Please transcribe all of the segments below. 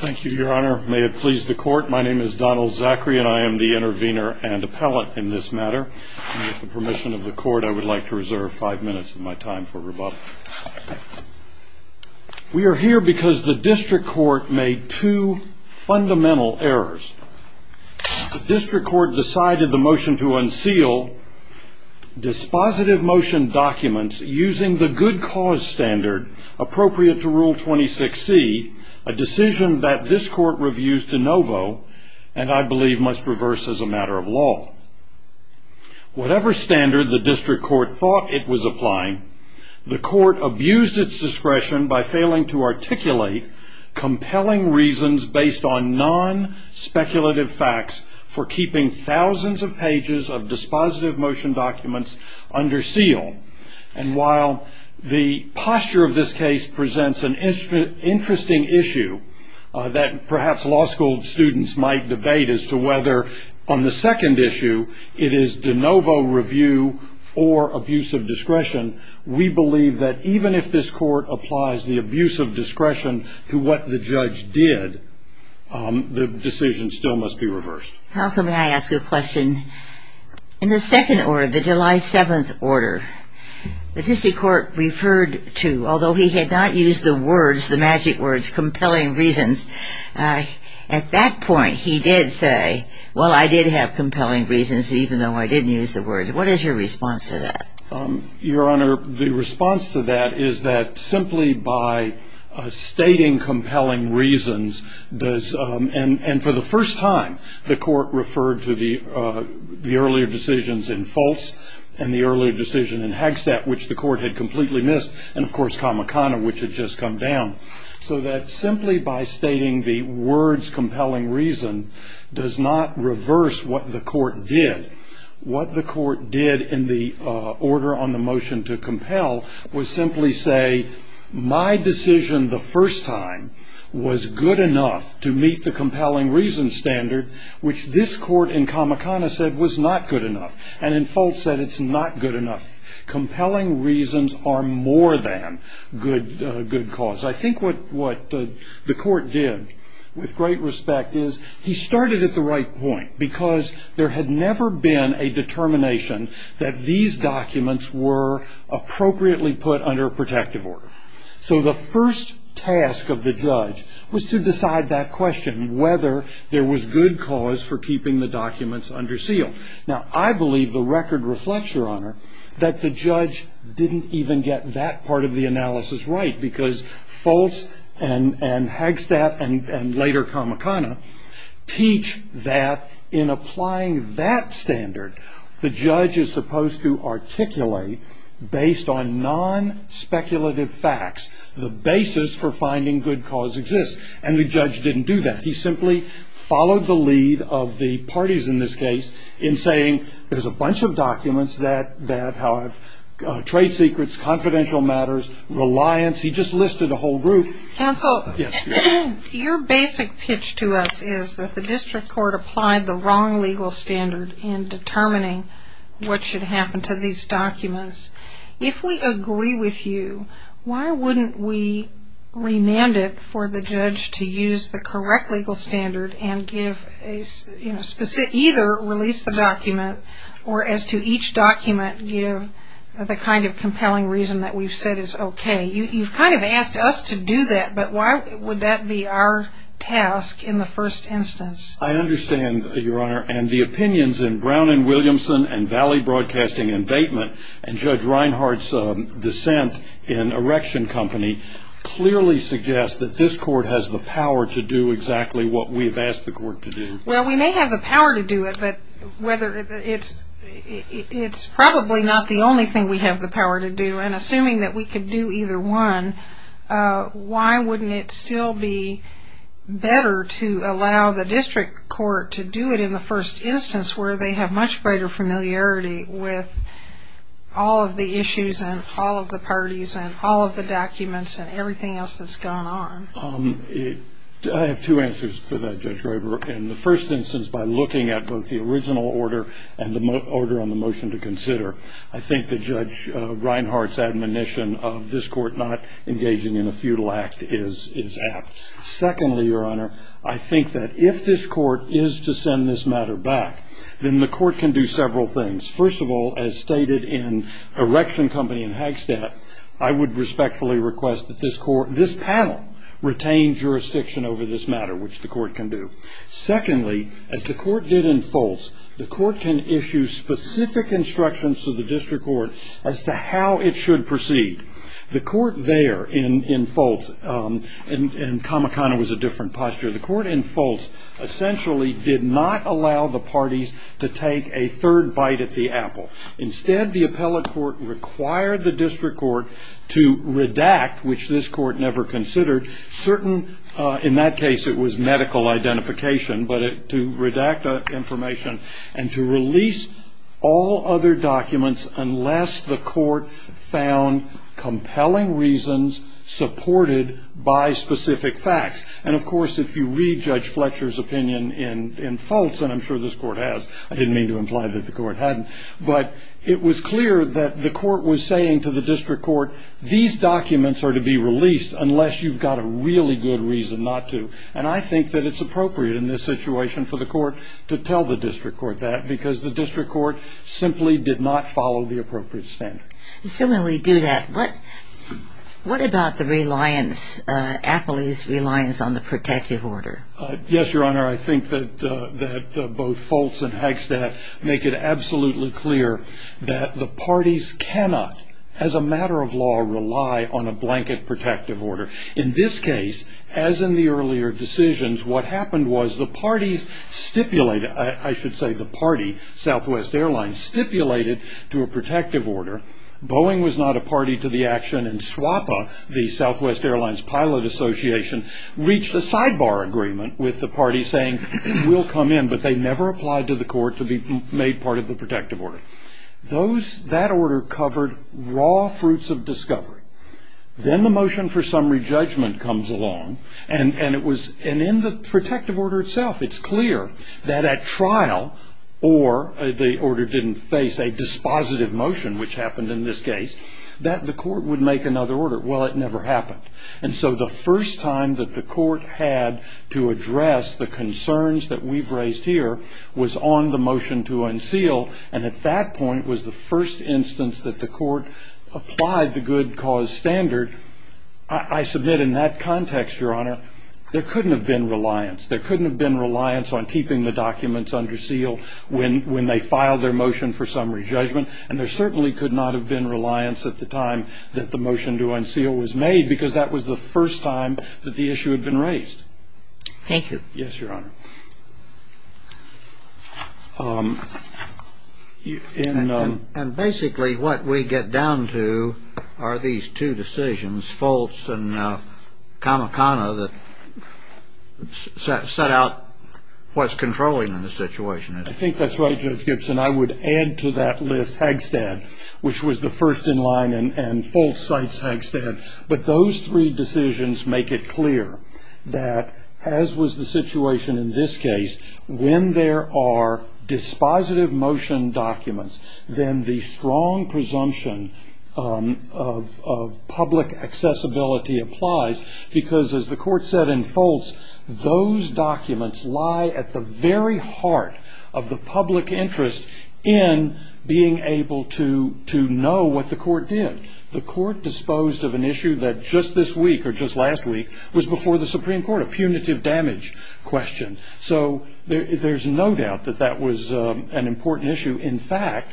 Thank you, your honor. May it please the court. My name is Donald Zachary and I am the intervener and appellate in this matter. With the permission of the court, I would like to reserve five minutes of my time for rebuttal. We are here because the district court made two fundamental errors. The district court decided the motion to unseal dispositive motion documents using the good cause standard appropriate to Rule 26C, a decision that this court reviews de novo and I believe must reverse as a matter of law. Whatever standard the district court thought it was applying, the court abused its discretion by failing to articulate compelling reasons based on non-speculative facts for keeping thousands of pages of dispositive motion documents under seal. And while the posture of this case presents an interesting issue that perhaps law school students might debate as to whether on the second issue it is de novo review or abuse of discretion, we believe that even if this court applies the abuse of discretion to what the judge did, the decision still must be reversed. Counsel, may I ask a question? In the second order, the July 7th order, the district court referred to, although he had not used the words, the magic words, compelling reasons, at that point he did say, well I did have compelling reasons even though I didn't use the words. What is your response to that? Your Honor, the response to that is that simply by stating compelling reasons, and for the first time the court referred to the earlier decisions in Fultz and the earlier decision in Hagstatt, which the court had completely missed, and of course Kamakana, which had just come down. So that simply by stating the words compelling reason does not reverse what the court did. What the court did in the order on the motion to compel was simply say, my decision the first time was good enough to meet the compelling reason standard, which this court in Kamakana said was not good enough, and in Fultz said it's not good enough. Compelling reasons are more than good cause. I think what the court did, with great respect, is he started at the right point, because there had never been a determination that these documents were appropriately put under a protective order. So the first task of the judge was to decide that question, whether there was good cause for keeping the documents under seal. Now I believe the record reflects, Your Honor, that the judge didn't even get that part of the analysis right, because Fultz and Hagstatt and later Kamakana teach that in applying that standard, the judge is supposed to articulate, based on non-speculative facts, the basis for finding good cause exists, and the judge didn't do that. He simply followed the lead of the parties in this case in saying there's a bunch of documents that have trade secrets, confidential matters, reliance. He just listed a whole group. Counsel, your basic pitch to us is that the district court applied the wrong legal standard in determining what should happen to these documents. If we agree with you, why wouldn't we remand it for the judge to use the correct legal standard and either release the document or, as to each document, give the kind of compelling reason that we've said is okay? You've kind of asked us to do that, but why would that be our task in the first instance? I understand, Your Honor, and the opinions in Brown and Williamson and Valley Broadcasting Indatement and Judge Reinhart's dissent in Erection Company clearly suggest that this court has the power to do exactly what we've asked the court to do. Well, we may have the power to do it, but it's probably not the only thing we have the power to do, and assuming that we could do either one, why wouldn't it still be better to allow the district court to do it in the first instance where they have much greater familiarity with all of the issues and all of the parties and all of the documents and everything else that's going on? I have two answers to that, Judge Graber. In the first instance, by looking at both the original order and the order on the motion to consider, I think that Judge Reinhart's admonition of this court not engaging in a futile act is apt. Secondly, Your Honor, I think that if this court is to send this matter back, then the court can do several things. First of all, as stated in Erection Company and Hagstaff, I would respectfully request that this panel retain jurisdiction over this matter, which the court can do. Secondly, as the court did in Fultz, the court can issue specific instructions to the district court as to how it should proceed. The court there in Fultz, and Kamakana was a different posture, the court in Fultz essentially did not allow the parties to take a third bite at the apple. Instead, the appellate court required the district court to redact, which this court never considered, certain, in that case it was medical identification, but to redact information and to release all other documents unless the court found compelling reasons supported by specific facts. And of course, if you re-judge Fletcher's opinion in Fultz, and I'm sure this court has, I didn't mean to imply that the court hadn't, but it was clear that the court was saying to the district court, these documents are to be released unless you've got a really good reason not to. And I think that it's appropriate in this situation for the court to tell the district court that because the district court simply did not follow the appropriate standard. And so when we do that, what about the appellee's reliance on the protective order? Yes, Your Honor, I think that both Fultz and Hagstadt make it absolutely clear that the parties cannot, as a matter of law, rely on a blanket protective order. In this case, as in the earlier decisions, what happened was the parties stipulated, I should say the party, Southwest Airlines, stipulated to a protective order. Boeing was not a party to the action, and SWAPA, the Southwest Airlines Pilot Association, reached a sidebar agreement with the party saying, we'll come in, but they never applied to the court to be made part of the protective order. That order covered raw fruits of discovery. Then the motion for summary judgment comes along, and in the protective order itself it's clear that at trial, or the order didn't face a dispositive motion, which happened in this case, that the court would make another order. Well, it never happened. And so the first time that the court had to address the concerns that we've raised here was on the motion to unseal, and at that point was the first instance that the court applied the good cause standard. I submit in that context, Your Honor, there couldn't have been reliance. There couldn't have been reliance on keeping the documents under seal when they filed their motion for summary judgment, and there certainly could not have been reliance at the time that the motion to unseal was made because that was the first time that the issue had been raised. Thank you. Yes, Your Honor. And basically what we get down to are these two decisions, Fultz and Kamikana, that set out what's controlling the situation. I think that's right, Judge Gibson. I would add to that list Hagstead, which was the first in line, and Fultz cites Hagstead. But those three decisions make it clear that, as was the situation in the case of the Fultz case, in this case, when there are dispositive motion documents, then the strong presumption of public accessibility applies because, as the court said in Fultz, those documents lie at the very heart of the public interest in being able to know what the court did. The court disposed of an issue that just this week or just last week was before the Supreme Court, a punitive damage question. So there's no doubt that that was an important issue. In fact,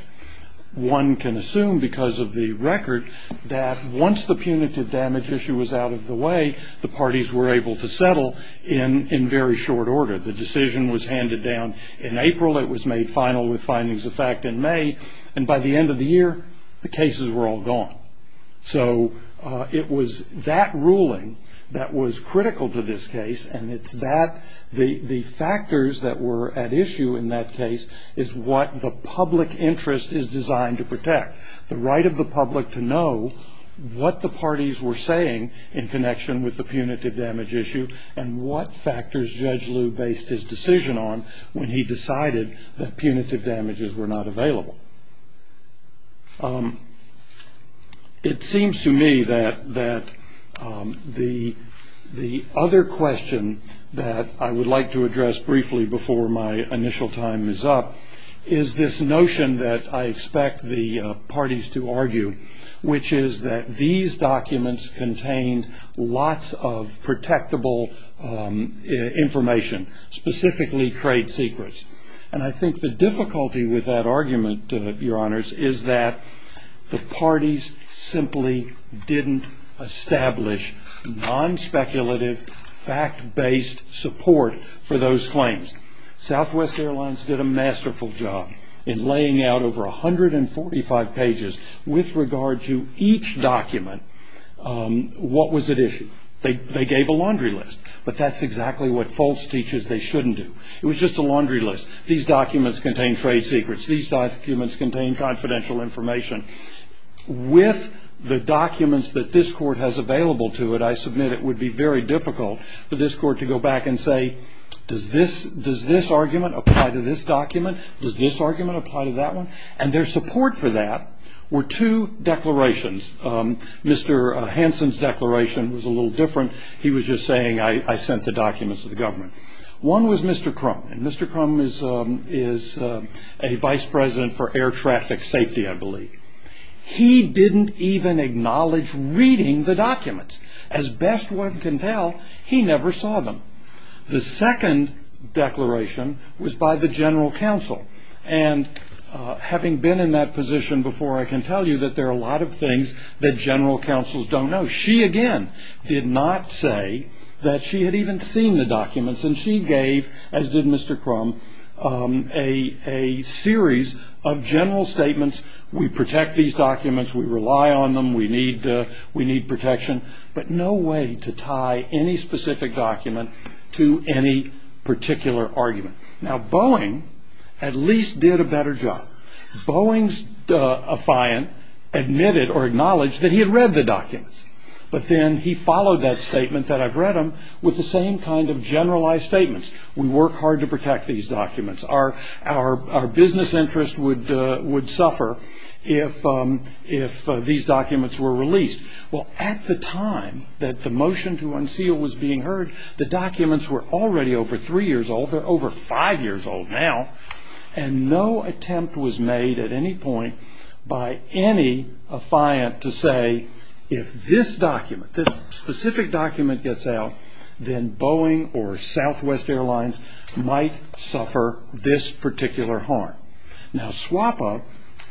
one can assume because of the record that once the punitive damage issue was out of the way, the parties were able to settle in very short order. The decision was handed down in April. It was made final with findings of fact in May. And by the end of the year, the cases were all gone. So it was that ruling that was critical to this case, and it's that the factors that were at issue in that case is what the public interest is designed to protect, the right of the public to know what the parties were saying in connection with the punitive damage issue and what factors Judge Liu based his decision on when he decided that punitive damages were not available. It seems to me that the other question that I would like to address briefly before my initial time is up is this notion that I expect the parties to argue, which is that these documents contained lots of protectable information, specifically trade secrets. And I think the difficulty with that argument, Your Honors, is that the parties simply didn't establish non-speculative, fact-based support for those claims. Southwest Airlines did a masterful job in laying out over 145 pages with regard to each document. What was at issue? They gave a laundry list. But that's exactly what false teaches they shouldn't do. It was just a laundry list. These documents contain trade secrets. These documents contain confidential information. With the documents that this Court has available to it, I submit it would be very difficult for this Court to go back and say, does this argument apply to this document? Does this argument apply to that one? And their support for that were two declarations. Mr. Hansen's declaration was a little different. He was just saying, I sent the documents to the government. One was Mr. Crum, and Mr. Crum is a vice president for air traffic safety, I believe. He didn't even acknowledge reading the documents. As best one can tell, he never saw them. The second declaration was by the general counsel. And having been in that position before, I can tell you that there are a lot of things that general counsels don't know. She, again, did not say that she had even seen the documents, and she gave, as did Mr. Crum, a series of general statements. We protect these documents. We rely on them. We need protection. But no way to tie any specific document to any particular argument. Now, Boeing at least did a better job. But then he followed that statement that I've read him with the same kind of generalized statements. We work hard to protect these documents. Our business interest would suffer if these documents were released. Well, at the time that the motion to unseal was being heard, the documents were already over three years old. They're over five years old now. And no attempt was made at any point by any affiant to say, if this document, this specific document gets out, then Boeing or Southwest Airlines might suffer this particular harm. Now, SWAPA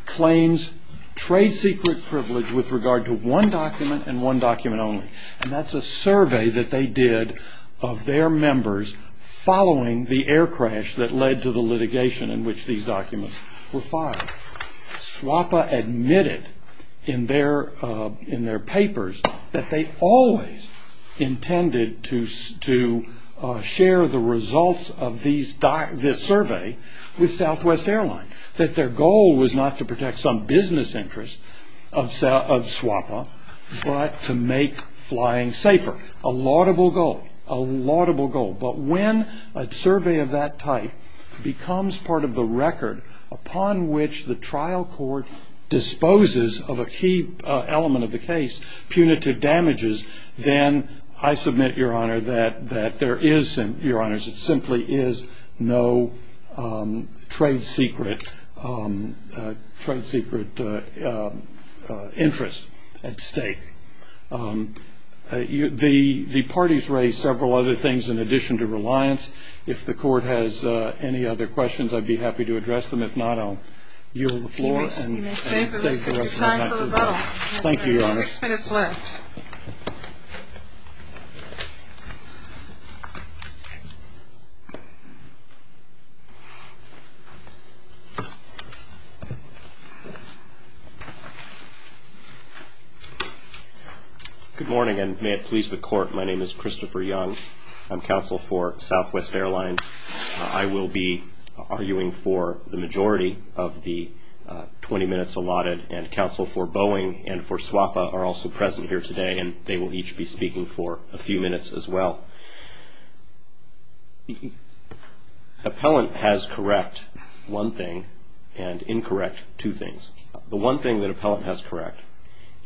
claims trade secret privilege with regard to one document and one document only. And that's a survey that they did of their members following the air crash that led to the litigation in which these documents were filed. SWAPA admitted in their papers that they always intended to share the results of this survey with Southwest Airlines, that their goal was not to protect some business interest of SWAPA, but to make flying safer, a laudable goal, a laudable goal. But when a survey of that type becomes part of the record upon which the trial court disposes of a key element of the case, punitive damages, then I submit, Your Honor, that there is, Your Honors, it simply is no trade secret interest at stake. The parties raised several other things in addition to reliance. If the court has any other questions, I'd be happy to address them. If not, I'll yield the floor and save the rest of my time. Thank you for the rebuttal. Thank you, Your Honor. You have six minutes left. Good morning, and may it please the court, my name is Christopher Young. I'm counsel for Southwest Airlines. I will be arguing for the majority of the 20 minutes allotted, and counsel for Boeing and for SWAPA are also present here today, and they will each be speaking for a few minutes as well. Appellant has correct one thing and incorrect two things. The one thing that appellant has correct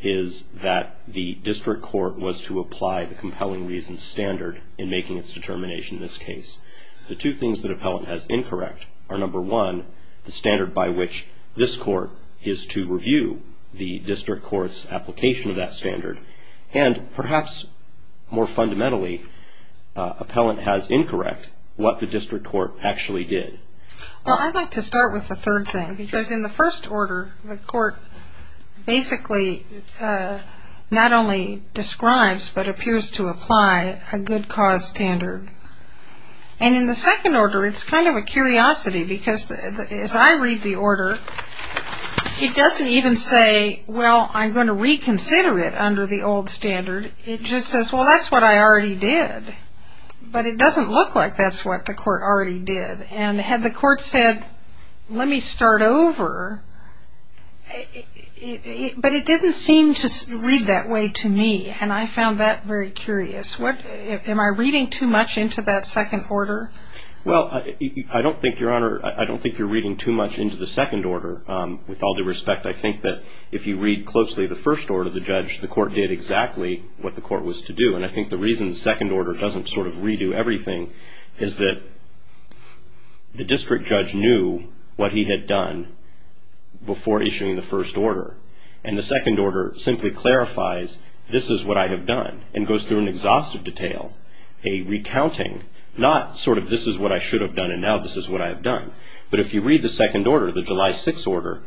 is that the district court was to apply the compelling reasons standard in making its determination in this case. The two things that appellant has incorrect are, number one, the standard by which this court is to review the district court's application of that standard, and perhaps more fundamentally, appellant has incorrect what the district court actually did. Well, I'd like to start with the third thing, because in the first order, the court basically not only describes but appears to apply a good cause standard. And in the second order, it's kind of a curiosity, because as I read the order, it doesn't even say, well, I'm going to reconsider it under the old standard. It just says, well, that's what I already did. But it doesn't look like that's what the court already did. And had the court said, let me start over, but it didn't seem to read that way to me, and I found that very curious. Am I reading too much into that second order? Well, I don't think, Your Honor, I don't think you're reading too much into the second order. With all due respect, I think that if you read closely the first order of the judge, the court did exactly what the court was to do. And I think the reason the second order doesn't sort of redo everything is that the district judge knew what he had done before issuing the first order. And the second order simply clarifies, this is what I have done, and goes through an exhaustive detail, a recounting, not sort of this is what I should have done, and now this is what I have done. But if you read the second order, the July 6 order,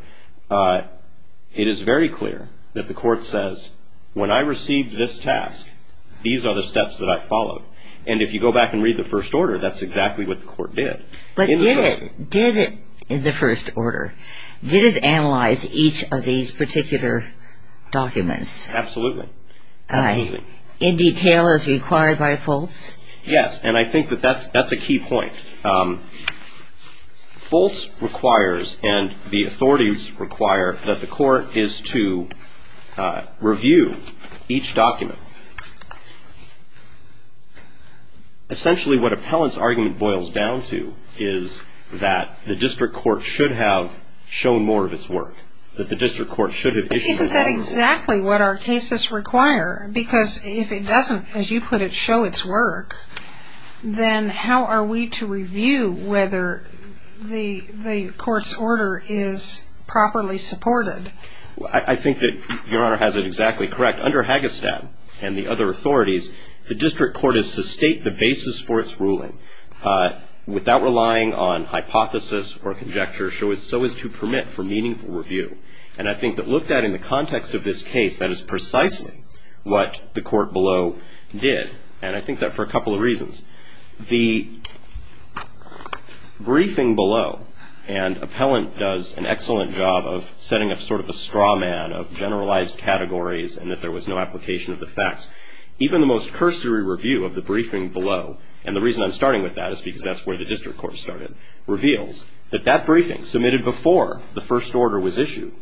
it is very clear that the court says, when I received this task, these are the steps that I followed. And if you go back and read the first order, that's exactly what the court did. But did it, in the first order, did it analyze each of these particular documents? Absolutely. In detail as required by Fultz? Yes. And I think that that's a key point. Fultz requires, and the authorities require, that the court is to review each document. Essentially what appellant's argument boils down to is that the district court should have shown more of its work, that the district court should have issued more. But isn't that exactly what our cases require? Because if it doesn't, as you put it, show its work, then how are we to review whether the court's order is properly supported? I think that Your Honor has it exactly correct. Under Hagestad and the other authorities, the district court is to state the basis for its ruling without relying on hypothesis or conjecture, so as to permit for meaningful review. And I think that looked at in the context of this case, that is precisely what the court below did. And I think that for a couple of reasons. The briefing below, and appellant does an excellent job of setting up sort of a straw man of generalized categories and that there was no application of the facts. Even the most cursory review of the briefing below, and the reason I'm starting with that is because that's where the district court started, reveals that that briefing submitted before the first order was issued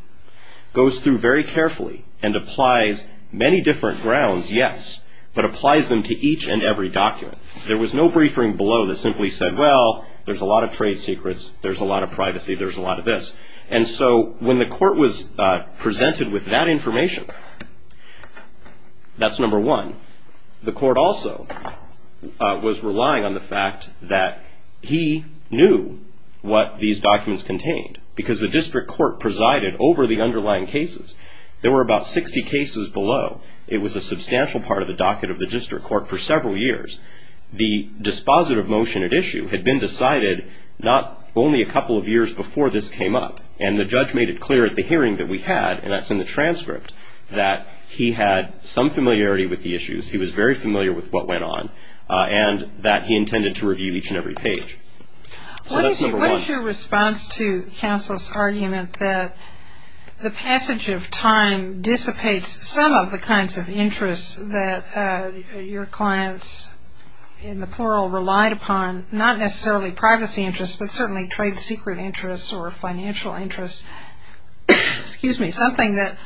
goes through very carefully and applies many different grounds, yes, but applies them to each and every document. There was no briefing below that simply said, well, there's a lot of trade secrets, there's a lot of privacy, there's a lot of this. And so when the court was presented with that information, that's number one. The court also was relying on the fact that he knew what these documents contained, because the district court presided over the underlying cases. There were about 60 cases below. It was a substantial part of the docket of the district court for several years. The dispositive motion at issue had been decided not only a couple of years before this came up, and the judge made it clear at the hearing that we had, and that's in the transcript, that he had some familiarity with the issues, he was very familiar with what went on, and that he intended to review each and every page. So that's number one. What is your response to counsel's argument that the passage of time dissipates some of the kinds of interests that your clients, in the plural, relied upon, not necessarily privacy interests, but certainly trade secret interests or financial interests, something that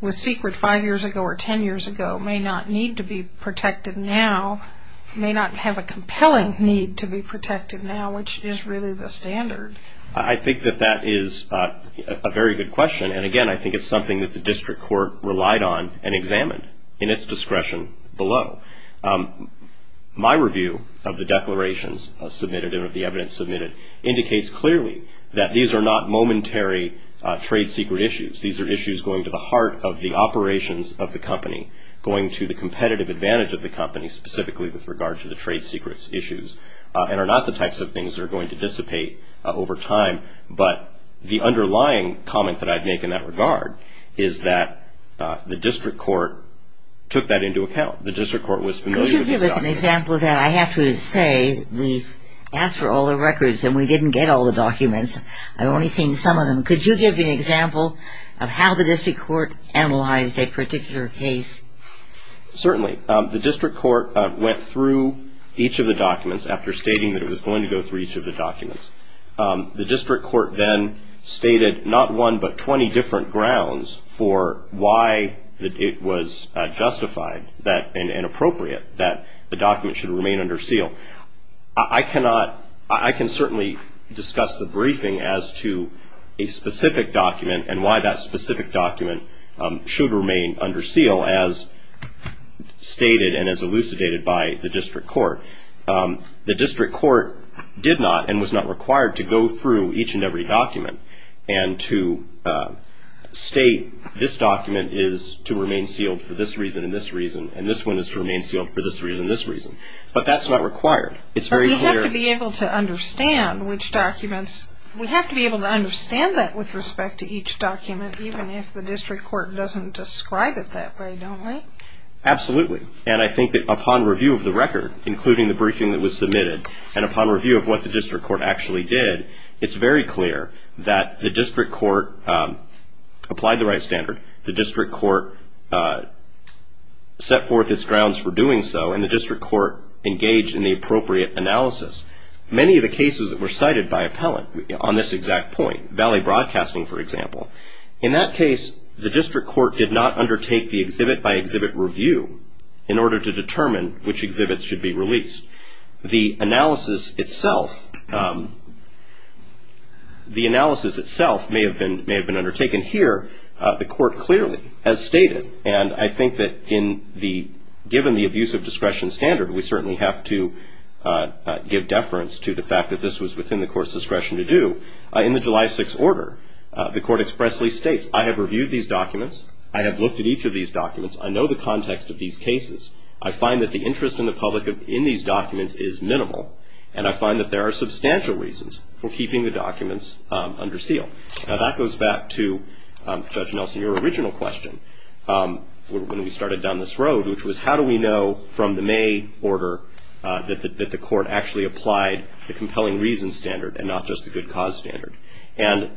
was secret five years ago or ten years ago may not need to be protected now, may not have a compelling need to be protected now, which is really the standard? I think that that is a very good question, and again I think it's something that the district court relied on and examined in its discretion below. My review of the declarations submitted and of the evidence submitted indicates clearly that these are not momentary trade secret issues. These are issues going to the heart of the operations of the company, going to the competitive advantage of the company, specifically with regard to the trade secrets issues, and are not the types of things that are going to dissipate over time. But the underlying comment that I'd make in that regard is that the district court took that into account. The district court was familiar with the documents. Could you give us an example of that? I have to say we asked for all the records and we didn't get all the documents. I've only seen some of them. Could you give me an example of how the district court analyzed a particular case? Certainly. The district court went through each of the documents after stating that it was going to go through each of the documents. The district court then stated not one but 20 different grounds for why it was justified and appropriate that the document should remain under seal. I cannot, I can certainly discuss the briefing as to a specific document and why that specific document should remain under seal as stated and as elucidated by the district court. The district court did not and was not required to go through each and every document and to state this document is to remain sealed for this reason and this reason and this one is to remain sealed for this reason and this reason. But that's not required. It's very clear. But we have to be able to understand which documents, we have to be able to understand that with respect to each document even if the district court doesn't describe it that way, don't we? Absolutely. And I think that upon review of the record including the briefing that was submitted and upon review of what the district court actually did, it's very clear that the district court applied the right standard, the district court set forth its grounds for doing so, and the district court engaged in the appropriate analysis. Many of the cases that were cited by appellant on this exact point, Valley Broadcasting, for example, in that case the district court did not undertake the exhibit by exhibit review in order to determine which exhibits should be released. The analysis itself may have been undertaken here. The court clearly has stated, and I think that given the abuse of discretion standard, we certainly have to give deference to the fact that this was within the court's discretion to do, in the July 6th order the court expressly states, I have reviewed these documents. I have looked at each of these documents. I know the context of these cases. I find that the interest in the public in these documents is minimal, and I find that there are substantial reasons for keeping the documents under seal. Now that goes back to, Judge Nelson, your original question when we started down this road, which was how do we know from the May order that the court actually applied the compelling reason standard and not just the good cause standard. And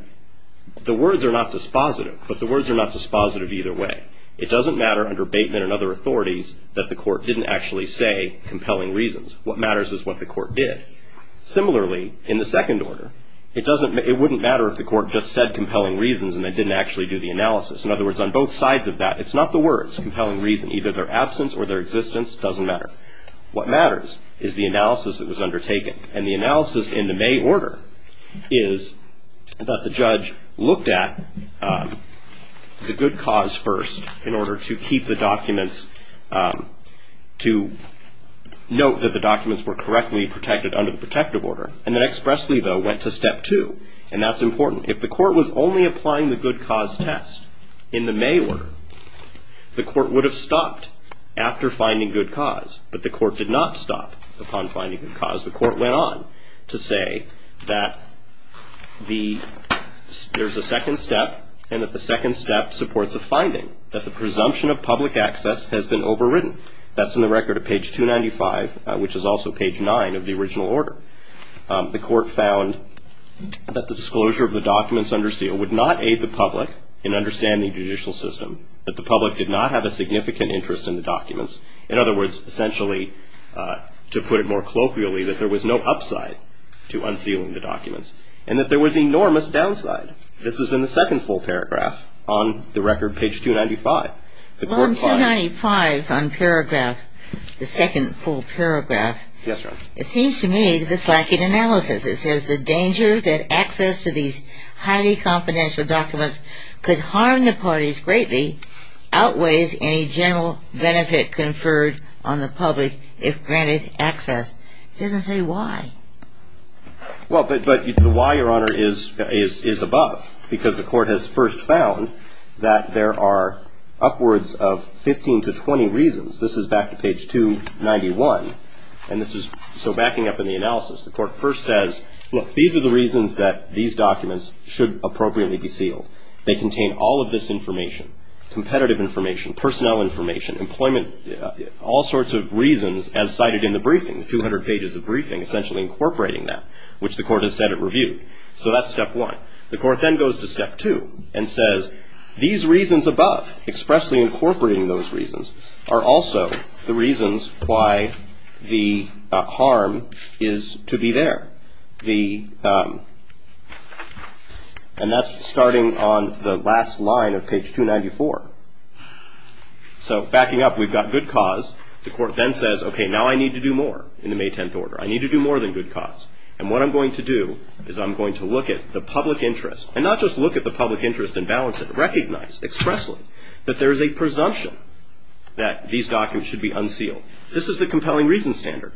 the words are not dispositive, but the words are not dispositive either way. It doesn't matter under Bateman and other authorities that the court didn't actually say compelling reasons. What matters is what the court did. Similarly, in the second order, it wouldn't matter if the court just said compelling reasons and then didn't actually do the analysis. In other words, on both sides of that, it's not the words compelling reason. Either their absence or their existence doesn't matter. What matters is the analysis that was undertaken. And the analysis in the May order is that the judge looked at the good cause first in order to keep the documents, to note that the documents were correctly protected under the protective order, and then expressly, though, went to step two. And that's important. If the court was only applying the good cause test in the May order, the court would have stopped after finding good cause. But the court did not stop upon finding good cause. The court went on to say that there's a second step and that the second step supports a finding, that the presumption of public access has been overridden. That's in the record of page 295, which is also page 9 of the original order. The court found that the disclosure of the documents under seal would not aid the public in understanding the judicial system, that the public did not have a significant interest in the documents. In other words, essentially, to put it more colloquially, that there was no upside to unsealing the documents and that there was enormous downside. This is in the second full paragraph on the record, page 295. The court finds... Well, in 295 on paragraph, the second full paragraph... Yes, Your Honor. It seems to me that this is like an analysis. It says the danger that access to these highly confidential documents could harm the parties greatly outweighs any general benefit conferred on the public if granted access. It doesn't say why. Well, but the why, Your Honor, is above. Because the court has first found that there are upwards of 15 to 20 reasons. This is back to page 291. And this is... So backing up in the analysis, the court first says, look, these are the reasons that these documents should appropriately be sealed. They contain all of this information, competitive information, personnel information, employment, all sorts of reasons as cited in the briefing, 200 pages of briefing, essentially incorporating that, which the court has said it reviewed. So that's step one. The court then goes to step two and says, these reasons above, expressly incorporating those reasons, are also the reasons why the harm is to be there. And that's starting on the last line of page 294. So backing up, we've got good cause. The court then says, okay, now I need to do more in the May 10th order. I need to do more than good cause. And what I'm going to do is I'm going to look at the public interest, and not just look at the public interest and balance it, recognize expressly that there is a presumption that these documents should be unsealed. This is the compelling reason standard.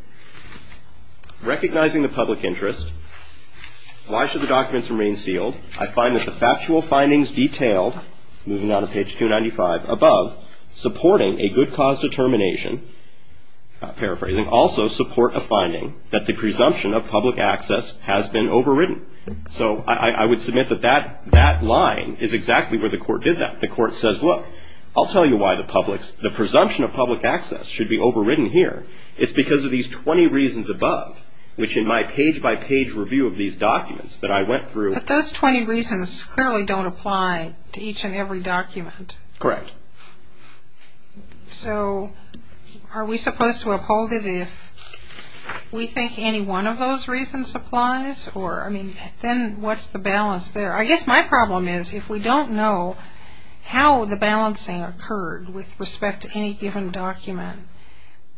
Recognizing the public interest, why should the documents remain sealed? I find that the factual findings detailed, moving down to page 295, above, supporting a good cause determination, paraphrasing, also support a finding that the presumption of public access has been overridden. So I would submit that that line is exactly where the court did that. The court says, look, I'll tell you why the presumption of public access should be overridden here. It's because of these 20 reasons above, which in my page-by-page review of these documents that I went through. But those 20 reasons clearly don't apply to each and every document. Correct. So are we supposed to uphold it if we think any one of those reasons applies? Or, I mean, then what's the balance there? I guess my problem is if we don't know how the balancing occurred with respect to any given document,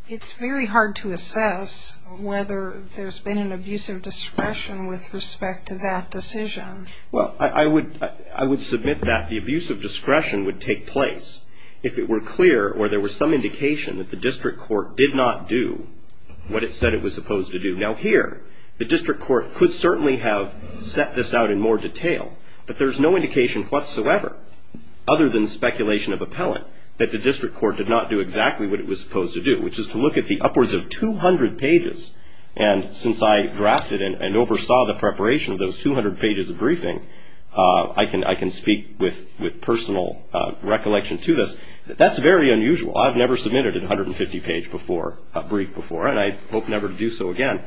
it's very hard to assess whether there's been an abuse of discretion with respect to that decision. Well, I would submit that the abuse of discretion would take place if it were clear or there was some indication that the district court did not do what it said it was supposed to do. Now, here, the district court could certainly have set this out in more detail, but there's no indication whatsoever, other than speculation of appellant, that the district court did not do exactly what it was supposed to do, which is to look at the upwards of 200 pages. And since I drafted and oversaw the preparation of those 200 pages of briefing, I can speak with personal recollection to this. That's very unusual. I've never submitted a 150-page brief before, and I hope never to do so again.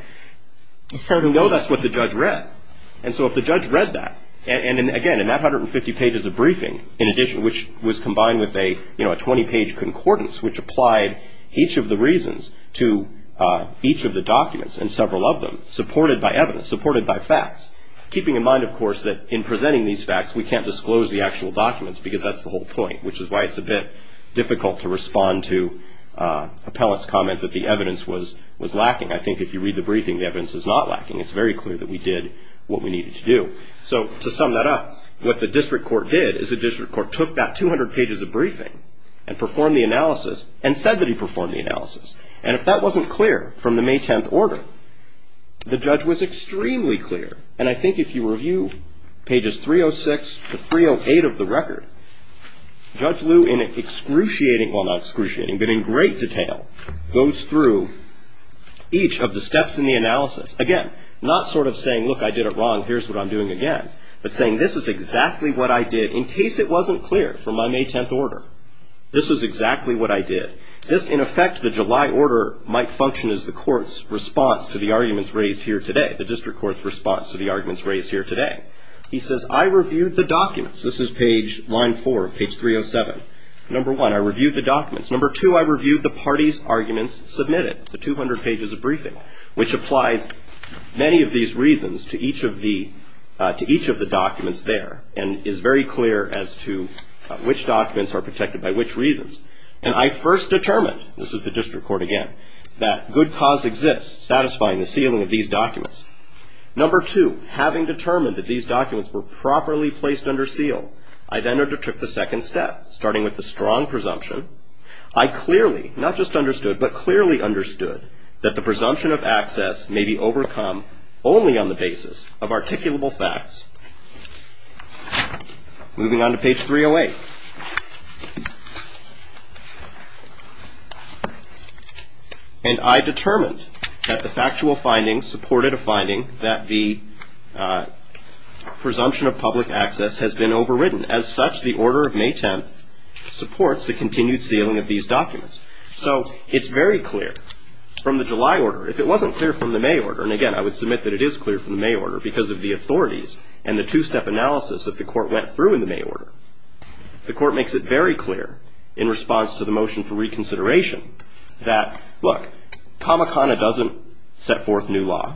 So we know that's what the judge read. And so if the judge read that, and, again, in that 150 pages of briefing, in addition, which was combined with a 20-page concordance, which applied each of the reasons to each of the documents and several of them, supported by evidence, supported by facts, keeping in mind, of course, that in presenting these facts, we can't disclose the actual documents because that's the whole point, which is why it's a bit difficult to respond to appellant's comment that the evidence was lacking. I think if you read the briefing, the evidence is not lacking. It's very clear that we did what we needed to do. So to sum that up, what the district court did is the district court took that 200 pages of briefing and performed the analysis and said that he performed the analysis. And if that wasn't clear from the May 10th order, the judge was extremely clear. And I think if you review pages 306 to 308 of the record, Judge Lew, in excruciating, well, not excruciating, but in great detail, goes through each of the steps in the analysis. Again, not sort of saying, look, I did it wrong, here's what I'm doing again, but saying this is exactly what I did in case it wasn't clear from my May 10th order. This is exactly what I did. This, in effect, the July order might function as the court's response to the arguments raised here today, the district court's response to the arguments raised here today. He says, I reviewed the documents. This is page line four of page 307. Number one, I reviewed the documents. Number two, I reviewed the parties' arguments submitted, the 200 pages of briefing, which applies many of these reasons to each of the documents there and is very clear as to which documents are protected by which reasons. And I first determined, this is the district court again, that good cause exists satisfying the sealing of these documents. Number two, having determined that these documents were properly placed under seal, I then undertook the second step, starting with the strong presumption. I clearly, not just understood, but clearly understood that the presumption of access may be overcome only on the basis of articulable facts. Moving on to page 308. And I determined that the factual findings supported a finding that the presumption of public access has been overridden. As such, the order of May 10th supports the continued sealing of these documents. So it's very clear from the July order. If it wasn't clear from the May order, and again, I would submit that it is clear from the May order because of the authorities and the two-step analysis that the court went through in the May order, the court makes it very clear in response to the motion for reconsideration that, look, Kamakana doesn't set forth new law.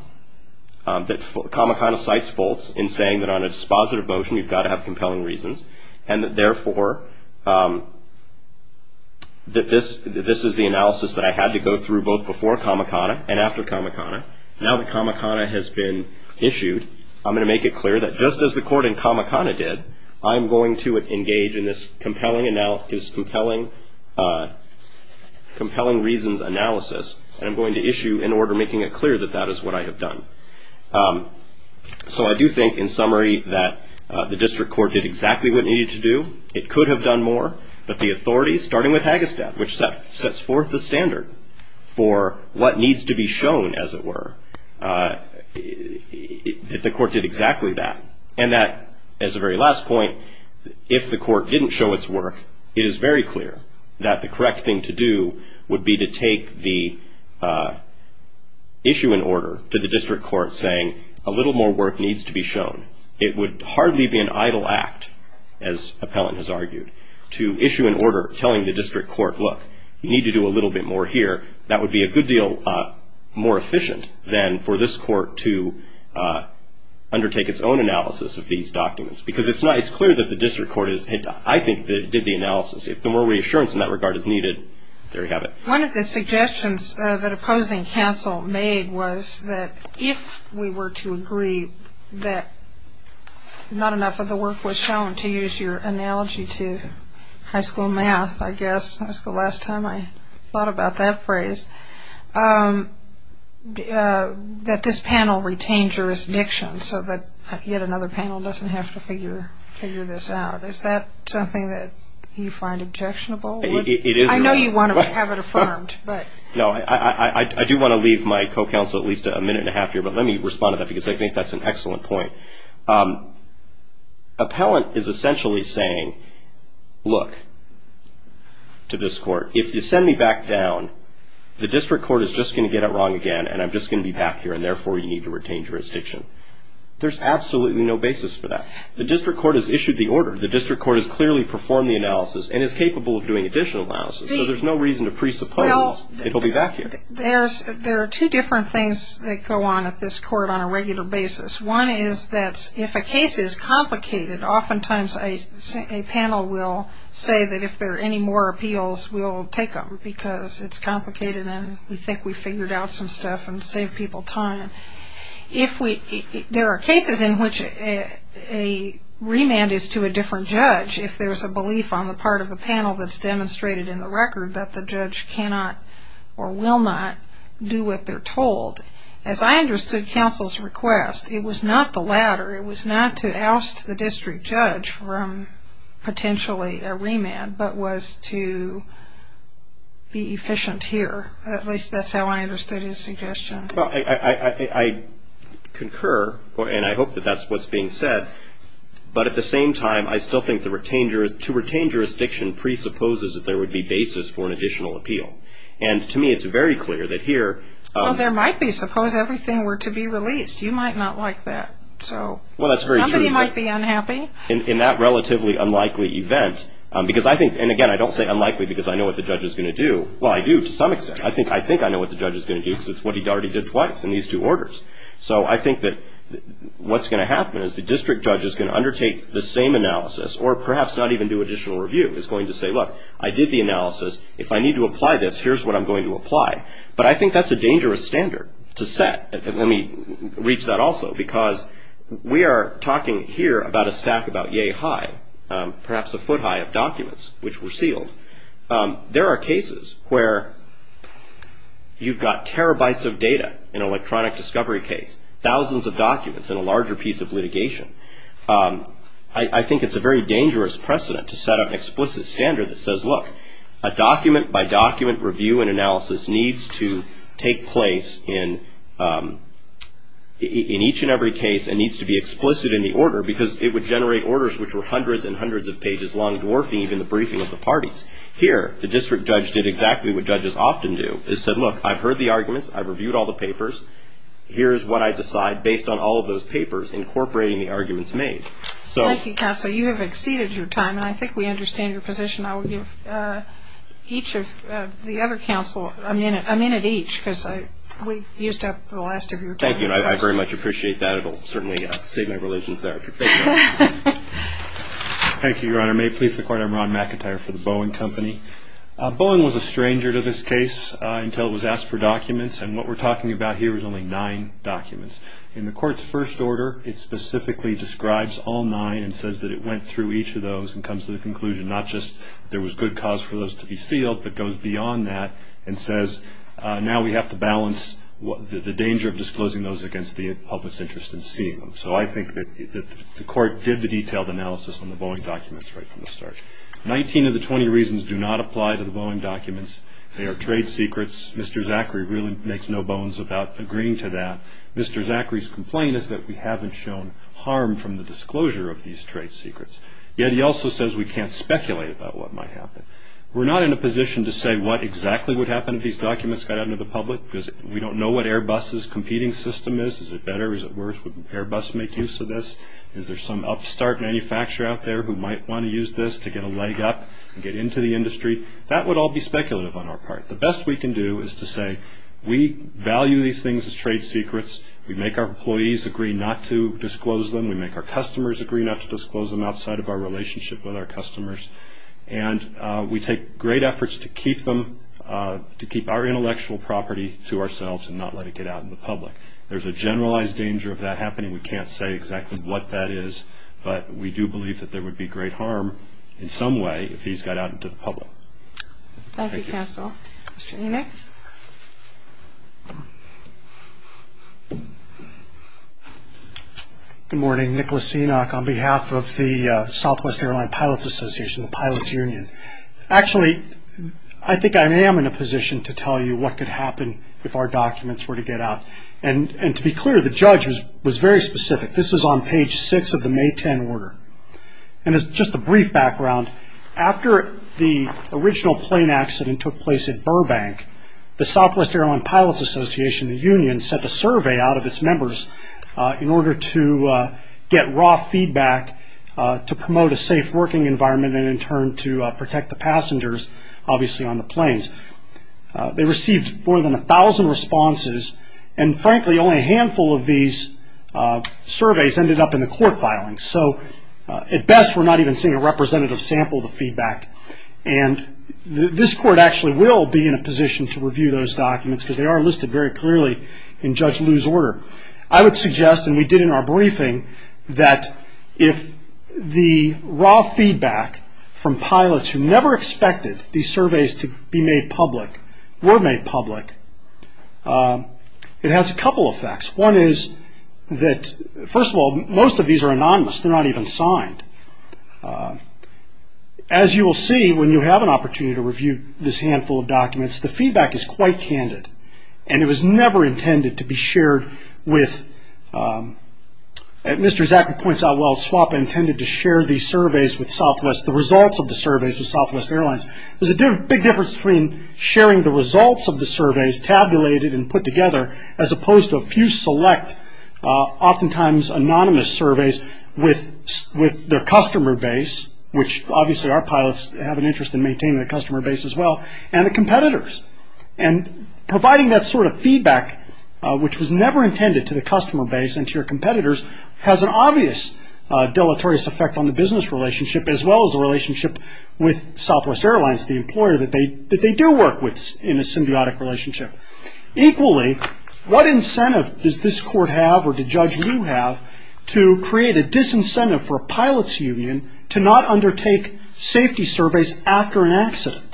Kamakana cites faults in saying that on a dispositive motion you've got to have compelling reasons and that therefore this is the analysis that I had to go through both before Kamakana and after Kamakana. Now that Kamakana has been issued, I'm going to make it clear that just as the court in Kamakana did, I'm going to engage in this compelling reasons analysis, and I'm going to issue an order making it clear that that is what I have done. So I do think, in summary, that the district court did exactly what it needed to do. It could have done more, but the authorities, starting with Hagestad, which sets forth the standard for what needs to be shown, as it were, the court did exactly that. And that, as a very last point, if the court didn't show its work, it is very clear that the correct thing to do would be to take the issue and order to the district court saying, a little more work needs to be shown. It would hardly be an idle act, as Appellant has argued, to issue an order telling the district court, look, you need to do a little bit more here. That would be a good deal more efficient than for this court to undertake its own analysis of these documents. Because it's clear that the district court, I think, did the analysis. If the more reassurance in that regard is needed, there you have it. One of the suggestions that opposing counsel made was that if we were to agree that not enough of the work was shown, to use your analogy to high school math, I guess, that was the last time I thought about that phrase, that this panel retain jurisdiction so that yet another panel doesn't have to figure this out. Is that something that you find objectionable? It is. I know you want to have it affirmed. No, I do want to leave my co-counsel at least a minute and a half here. But let me respond to that, because I think that's an excellent point. Appellant is essentially saying, look, to this court, if you send me back down, the district court is just going to get it wrong again, and I'm just going to be back here, and therefore you need to retain jurisdiction. There's absolutely no basis for that. The district court has issued the order. The district court has clearly performed the analysis and is capable of doing additional analysis. So there's no reason to presuppose it will be back here. There are two different things that go on at this court on a regular basis. One is that if a case is complicated, oftentimes a panel will say that if there are any more appeals, we'll take them, because it's complicated and we think we've figured out some stuff and saved people time. There are cases in which a remand is to a different judge if there's a belief on the part of the panel that's demonstrated in the record that the judge cannot or will not do what they're told. As I understood counsel's request, it was not the latter. It was not to oust the district judge from potentially a remand, but was to be efficient here. At least that's how I understood his suggestion. Well, I concur, and I hope that that's what's being said, but at the same time I still think to retain jurisdiction presupposes that there would be basis for an additional appeal. To me it's very clear that here... Well, there might be. Suppose everything were to be released. You might not like that. Well, that's very true. Somebody might be unhappy. In that relatively unlikely event, because I think, and again, I don't say unlikely because I know what the judge is going to do. Well, I do to some extent. I think I know what the judge is going to do because it's what he already did twice in these two orders. So I think that what's going to happen is the district judge is going to undertake the same analysis or perhaps not even do additional review. He's going to say, look, I did the analysis. If I need to apply this, here's what I'm going to apply. But I think that's a dangerous standard to set. Let me reach that also because we are talking here about a stack about yea high, perhaps a foot high of documents which were sealed. There are cases where you've got terabytes of data in an electronic discovery case, thousands of documents in a larger piece of litigation. I think it's a very dangerous precedent to set up an explicit standard that says, look, a document-by-document review and analysis needs to take place in each and every case and needs to be explicit in the order because it would generate orders which were hundreds and hundreds of pages long, dwarfing even the briefing of the parties. Here, the district judge did exactly what judges often do. He said, look, I've heard the arguments. I've reviewed all the papers. Here's what I decide based on all of those papers incorporating the arguments made. Thank you, counsel. You have exceeded your time, and I think we understand your position. I will give each of the other counsel a minute each because we used up the last of your time. Thank you, and I very much appreciate that. It will certainly save my religions there. Thank you. Thank you, Your Honor. May it please the Court, I'm Ron McIntyre for the Boeing Company. Boeing was a stranger to this case until it was asked for documents, and what we're talking about here is only nine documents. In the Court's first order, it specifically describes all nine and says that it went through each of those and comes to the conclusion, not just there was good cause for those to be sealed, but goes beyond that and says, now we have to balance the danger of disclosing those against the public's interest in seeing them. So I think that the Court did the detailed analysis on the Boeing documents right from the start. Nineteen of the 20 reasons do not apply to the Boeing documents. They are trade secrets. Mr. Zachary really makes no bones about agreeing to that. Mr. Zachary's complaint is that we haven't shown harm from the disclosure of these trade secrets. Yet he also says we can't speculate about what might happen. We're not in a position to say what exactly would happen if these documents got out into the public because we don't know what Airbus's competing system is. Is it better? Is it worse? Would Airbus make use of this? Is there some upstart manufacturer out there who might want to use this to get a leg up and get into the industry? That would all be speculative on our part. The best we can do is to say we value these things as trade secrets. We make our employees agree not to disclose them. We make our customers agree not to disclose them outside of our relationship with our customers. And we take great efforts to keep our intellectual property to ourselves and not let it get out in the public. There's a generalized danger of that happening. We can't say exactly what that is. But we do believe that there would be great harm in some way if these got out into the public. Thank you, Counsel. Mr. Enoch. Good morning. Nicholas Enoch on behalf of the Southwest Airline Pilots Association, the Pilots Union. Actually, I think I am in a position to tell you what could happen if our documents were to get out. And to be clear, the judge was very specific. This is on page 6 of the May 10 order. And as just a brief background, after the original plane accident took place at Burbank, the Southwest Airline Pilots Association, the union, sent a survey out of its members in order to get raw feedback to promote a safe working environment and in turn to protect the passengers, obviously, on the planes. They received more than 1,000 responses. And frankly, only a handful of these surveys ended up in the court filing. So at best, we're not even seeing a representative sample of the feedback. And this court actually will be in a position to review those documents because they are listed very clearly in Judge Liu's order. I would suggest, and we did in our briefing, that if the raw feedback from pilots who never expected these surveys to be made public were made public, it has a couple of effects. One is that, first of all, most of these are anonymous. They're not even signed. As you will see when you have an opportunity to review this handful of documents, the feedback is quite candid. And it was never intended to be shared with... Mr. Zachary points out, well, SWAP intended to share these surveys with Southwest, the results of the surveys with Southwest Airlines. There's a big difference between sharing the results of the surveys tabulated and put together as opposed to a few select, oftentimes anonymous surveys with their customer base, which obviously our pilots have an interest in maintaining the customer base as well, and the competitors. And providing that sort of feedback, which was never intended to the customer base and to your competitors, has an obvious deleterious effect on the business relationship as well as the relationship with Southwest Airlines, the employer that they do work with in a symbiotic relationship. Equally, what incentive does this court have, or did Judge Liu have, to create a disincentive for a pilots union to not undertake safety surveys after an accident?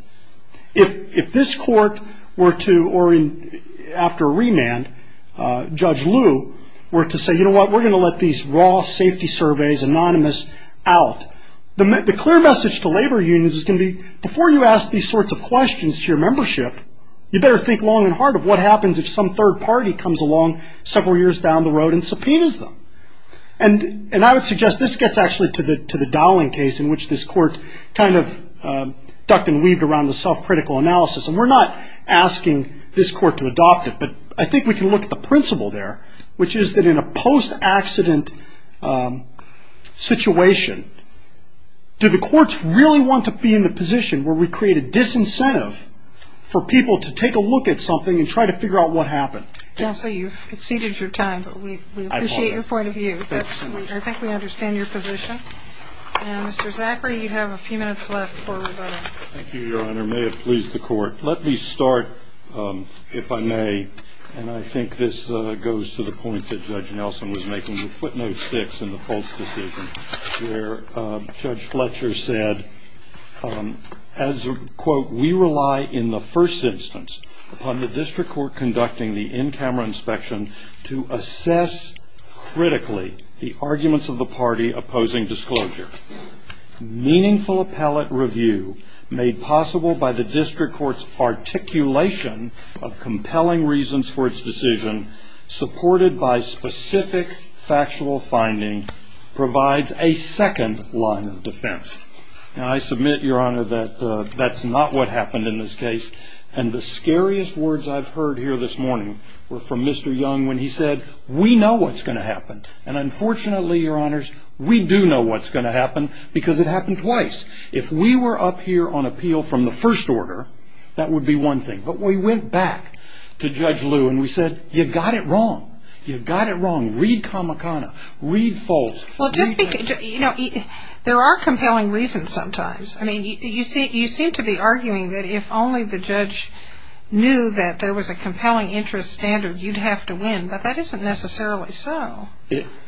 If this court were to, or after a remand, Judge Liu were to say, you know what, we're going to let these raw safety surveys, anonymous, out, the clear message to labor unions is going to be, before you ask these sorts of questions to your membership, you better think long and hard of what happens if some third party comes along several years down the road and subpoenas them. And I would suggest this gets actually to the Dowling case, in which this court kind of ducked and weaved around the self-critical analysis. And we're not asking this court to adopt it, but I think we can look at the principle there, which is that in a post-accident situation, do the courts really want to be in the position where we create a disincentive for people to take a look at something and try to figure out what happened? Counsel, you've exceeded your time. We appreciate your point of view. I think we understand your position. Mr. Zachary, you have a few minutes left before we vote on it. Thank you, Your Honor. May it please the Court. Let me start, if I may, and I think this goes to the point that Judge Nelson was making, the footnote six in the false decision, where Judge Fletcher said, as, quote, we rely in the first instance upon the district court conducting the in-camera inspection to assess critically the arguments of the party opposing disclosure. Meaningful appellate review made possible by the district court's articulation of compelling reasons for its decision, supported by specific factual finding, provides a second line of defense. Now, I submit, Your Honor, that that's not what happened in this case, and the scariest words I've heard here this morning were from Mr. Young when he said, we know what's going to happen. And unfortunately, Your Honors, we do know what's going to happen because it happened twice. If we were up here on appeal from the first order, that would be one thing. But we went back to Judge Liu and we said, you've got it wrong. You've got it wrong. Read Kamakana. Read false. Well, there are compelling reasons sometimes. I mean, you seem to be arguing that if only the judge knew that there was a compelling interest standard, you'd have to win, but that isn't necessarily so.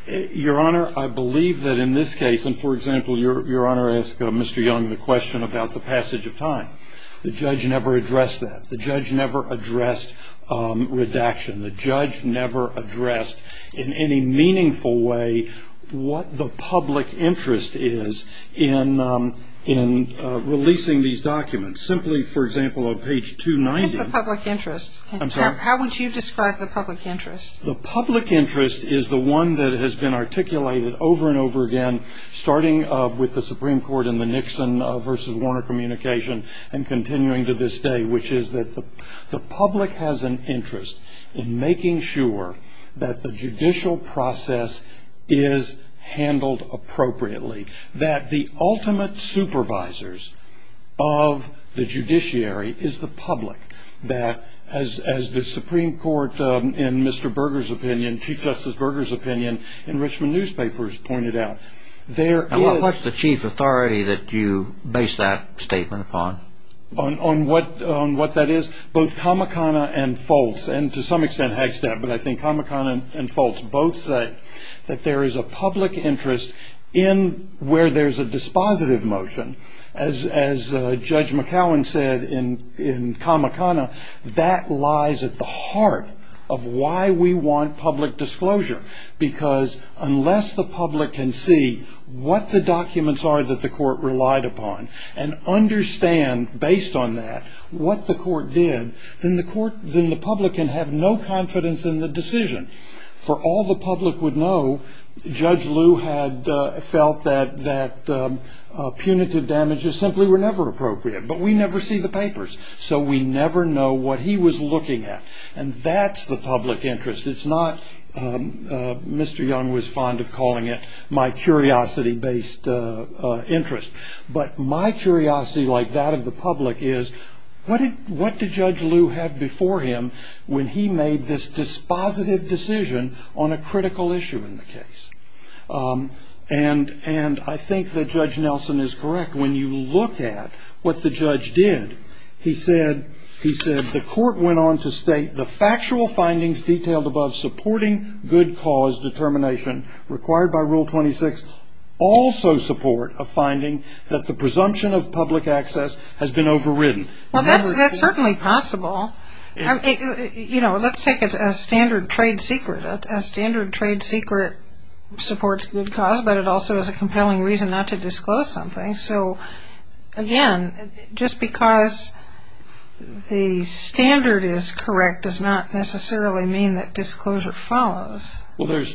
Your Honor, I believe that in this case, and, for example, Your Honor asked Mr. Young the question about the passage of time. The judge never addressed that. The judge never addressed redaction. The judge never addressed in any meaningful way what the public interest is in releasing these documents. Simply, for example, on page 290. It's the public interest. I'm sorry? How would you describe the public interest? The public interest is the one that has been articulated over and over again, starting with the Supreme Court in the Nixon versus Warner communication and continuing to this day, which is that the public has an interest in making sure that the judicial process is handled appropriately, that the ultimate supervisors of the judiciary is the public, that as the Supreme Court in Mr. Berger's opinion, Chief Justice Berger's opinion in Richmond newspapers pointed out, And what was the chief authority that you based that statement upon? On what that is? Both Kamakana and Foltz, and to some extent Hagstead, but I think Kamakana and Foltz both say that there is a public interest in where there's a dispositive motion. As Judge McCowan said in Kamakana, that lies at the heart of why we want public disclosure, because unless the public can see what the documents are that the court relied upon and understand, based on that, what the court did, then the public can have no confidence in the decision. For all the public would know, Judge Lew had felt that punitive damages simply were never appropriate, but we never see the papers, so we never know what he was looking at, and that's the public interest. It's not, Mr. Young was fond of calling it, my curiosity-based interest, but my curiosity like that of the public is, what did Judge Lew have before him when he made this dispositive decision on a critical issue in the case? And I think that Judge Nelson is correct. When you look at what the judge did, he said, the court went on to state, the factual findings detailed above supporting good cause determination required by Rule 26 also support a finding that the presumption of public access has been overridden. Well, that's certainly possible. You know, let's take a standard trade secret. A standard trade secret supports good cause, but it also is a compelling reason not to disclose something. So, again, just because the standard is correct does not necessarily mean that disclosure follows. Well, there's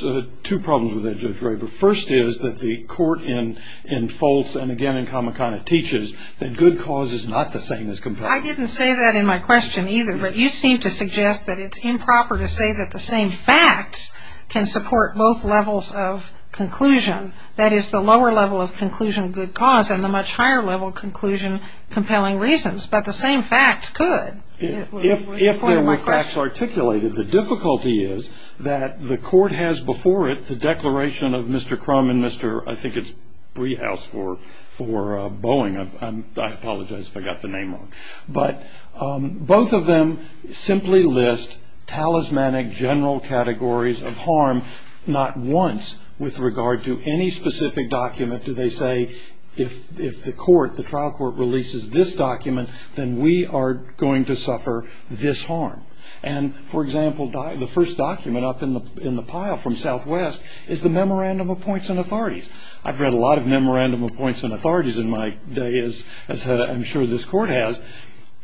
two problems with that, Judge Ray. The first is that the court in Foltz and, again, in Comicon, it teaches that good cause is not the same as compelling. I didn't say that in my question either, but you seem to suggest that it's improper to say that the same facts can support both levels of conclusion. That is, the lower level of conclusion, good cause, and the much higher level of conclusion, compelling reasons. But the same facts could. If there were facts articulated, the difficulty is that the court has before it the declaration of Mr. Crum and Mr. I think it's Brehaus for Boeing. I apologize if I got the name wrong. But both of them simply list talismanic general categories of harm not once with regard to any specific document. Do they say, if the trial court releases this document, then we are going to suffer this harm? And, for example, the first document up in the pile from Southwest is the Memorandum of Points and Authorities. I've read a lot of Memorandum of Points and Authorities in my day, as I'm sure this court has,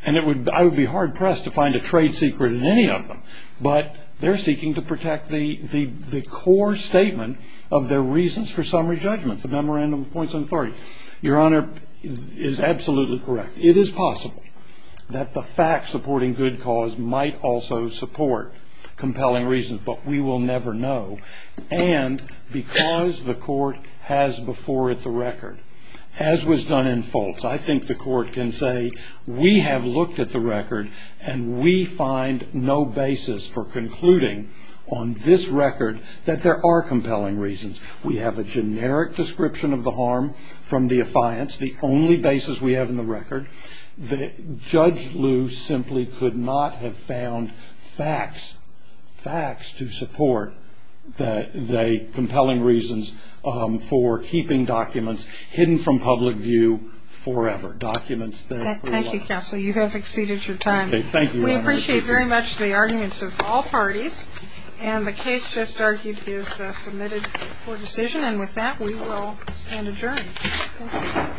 and I would be hard-pressed to find a trade secret in any of them. But they're seeking to protect the core statement of their reasons for summary judgment, the Memorandum of Points and Authorities. Your Honor is absolutely correct. It is possible that the facts supporting good cause might also support compelling reasons, but we will never know. And because the court has before it the record, as was done in Fultz, I think the court can say, we have looked at the record and we find no basis for concluding on this record that there are compelling reasons. We have a generic description of the harm from the affiance, the only basis we have in the record. Judge Liu simply could not have found facts to support the compelling reasons for keeping documents hidden from public view forever. Thank you, Counsel. You have exceeded your time. Thank you, Your Honor. We appreciate very much the arguments of all parties, and the case just argued is submitted for decision. And with that, we will stand adjourned.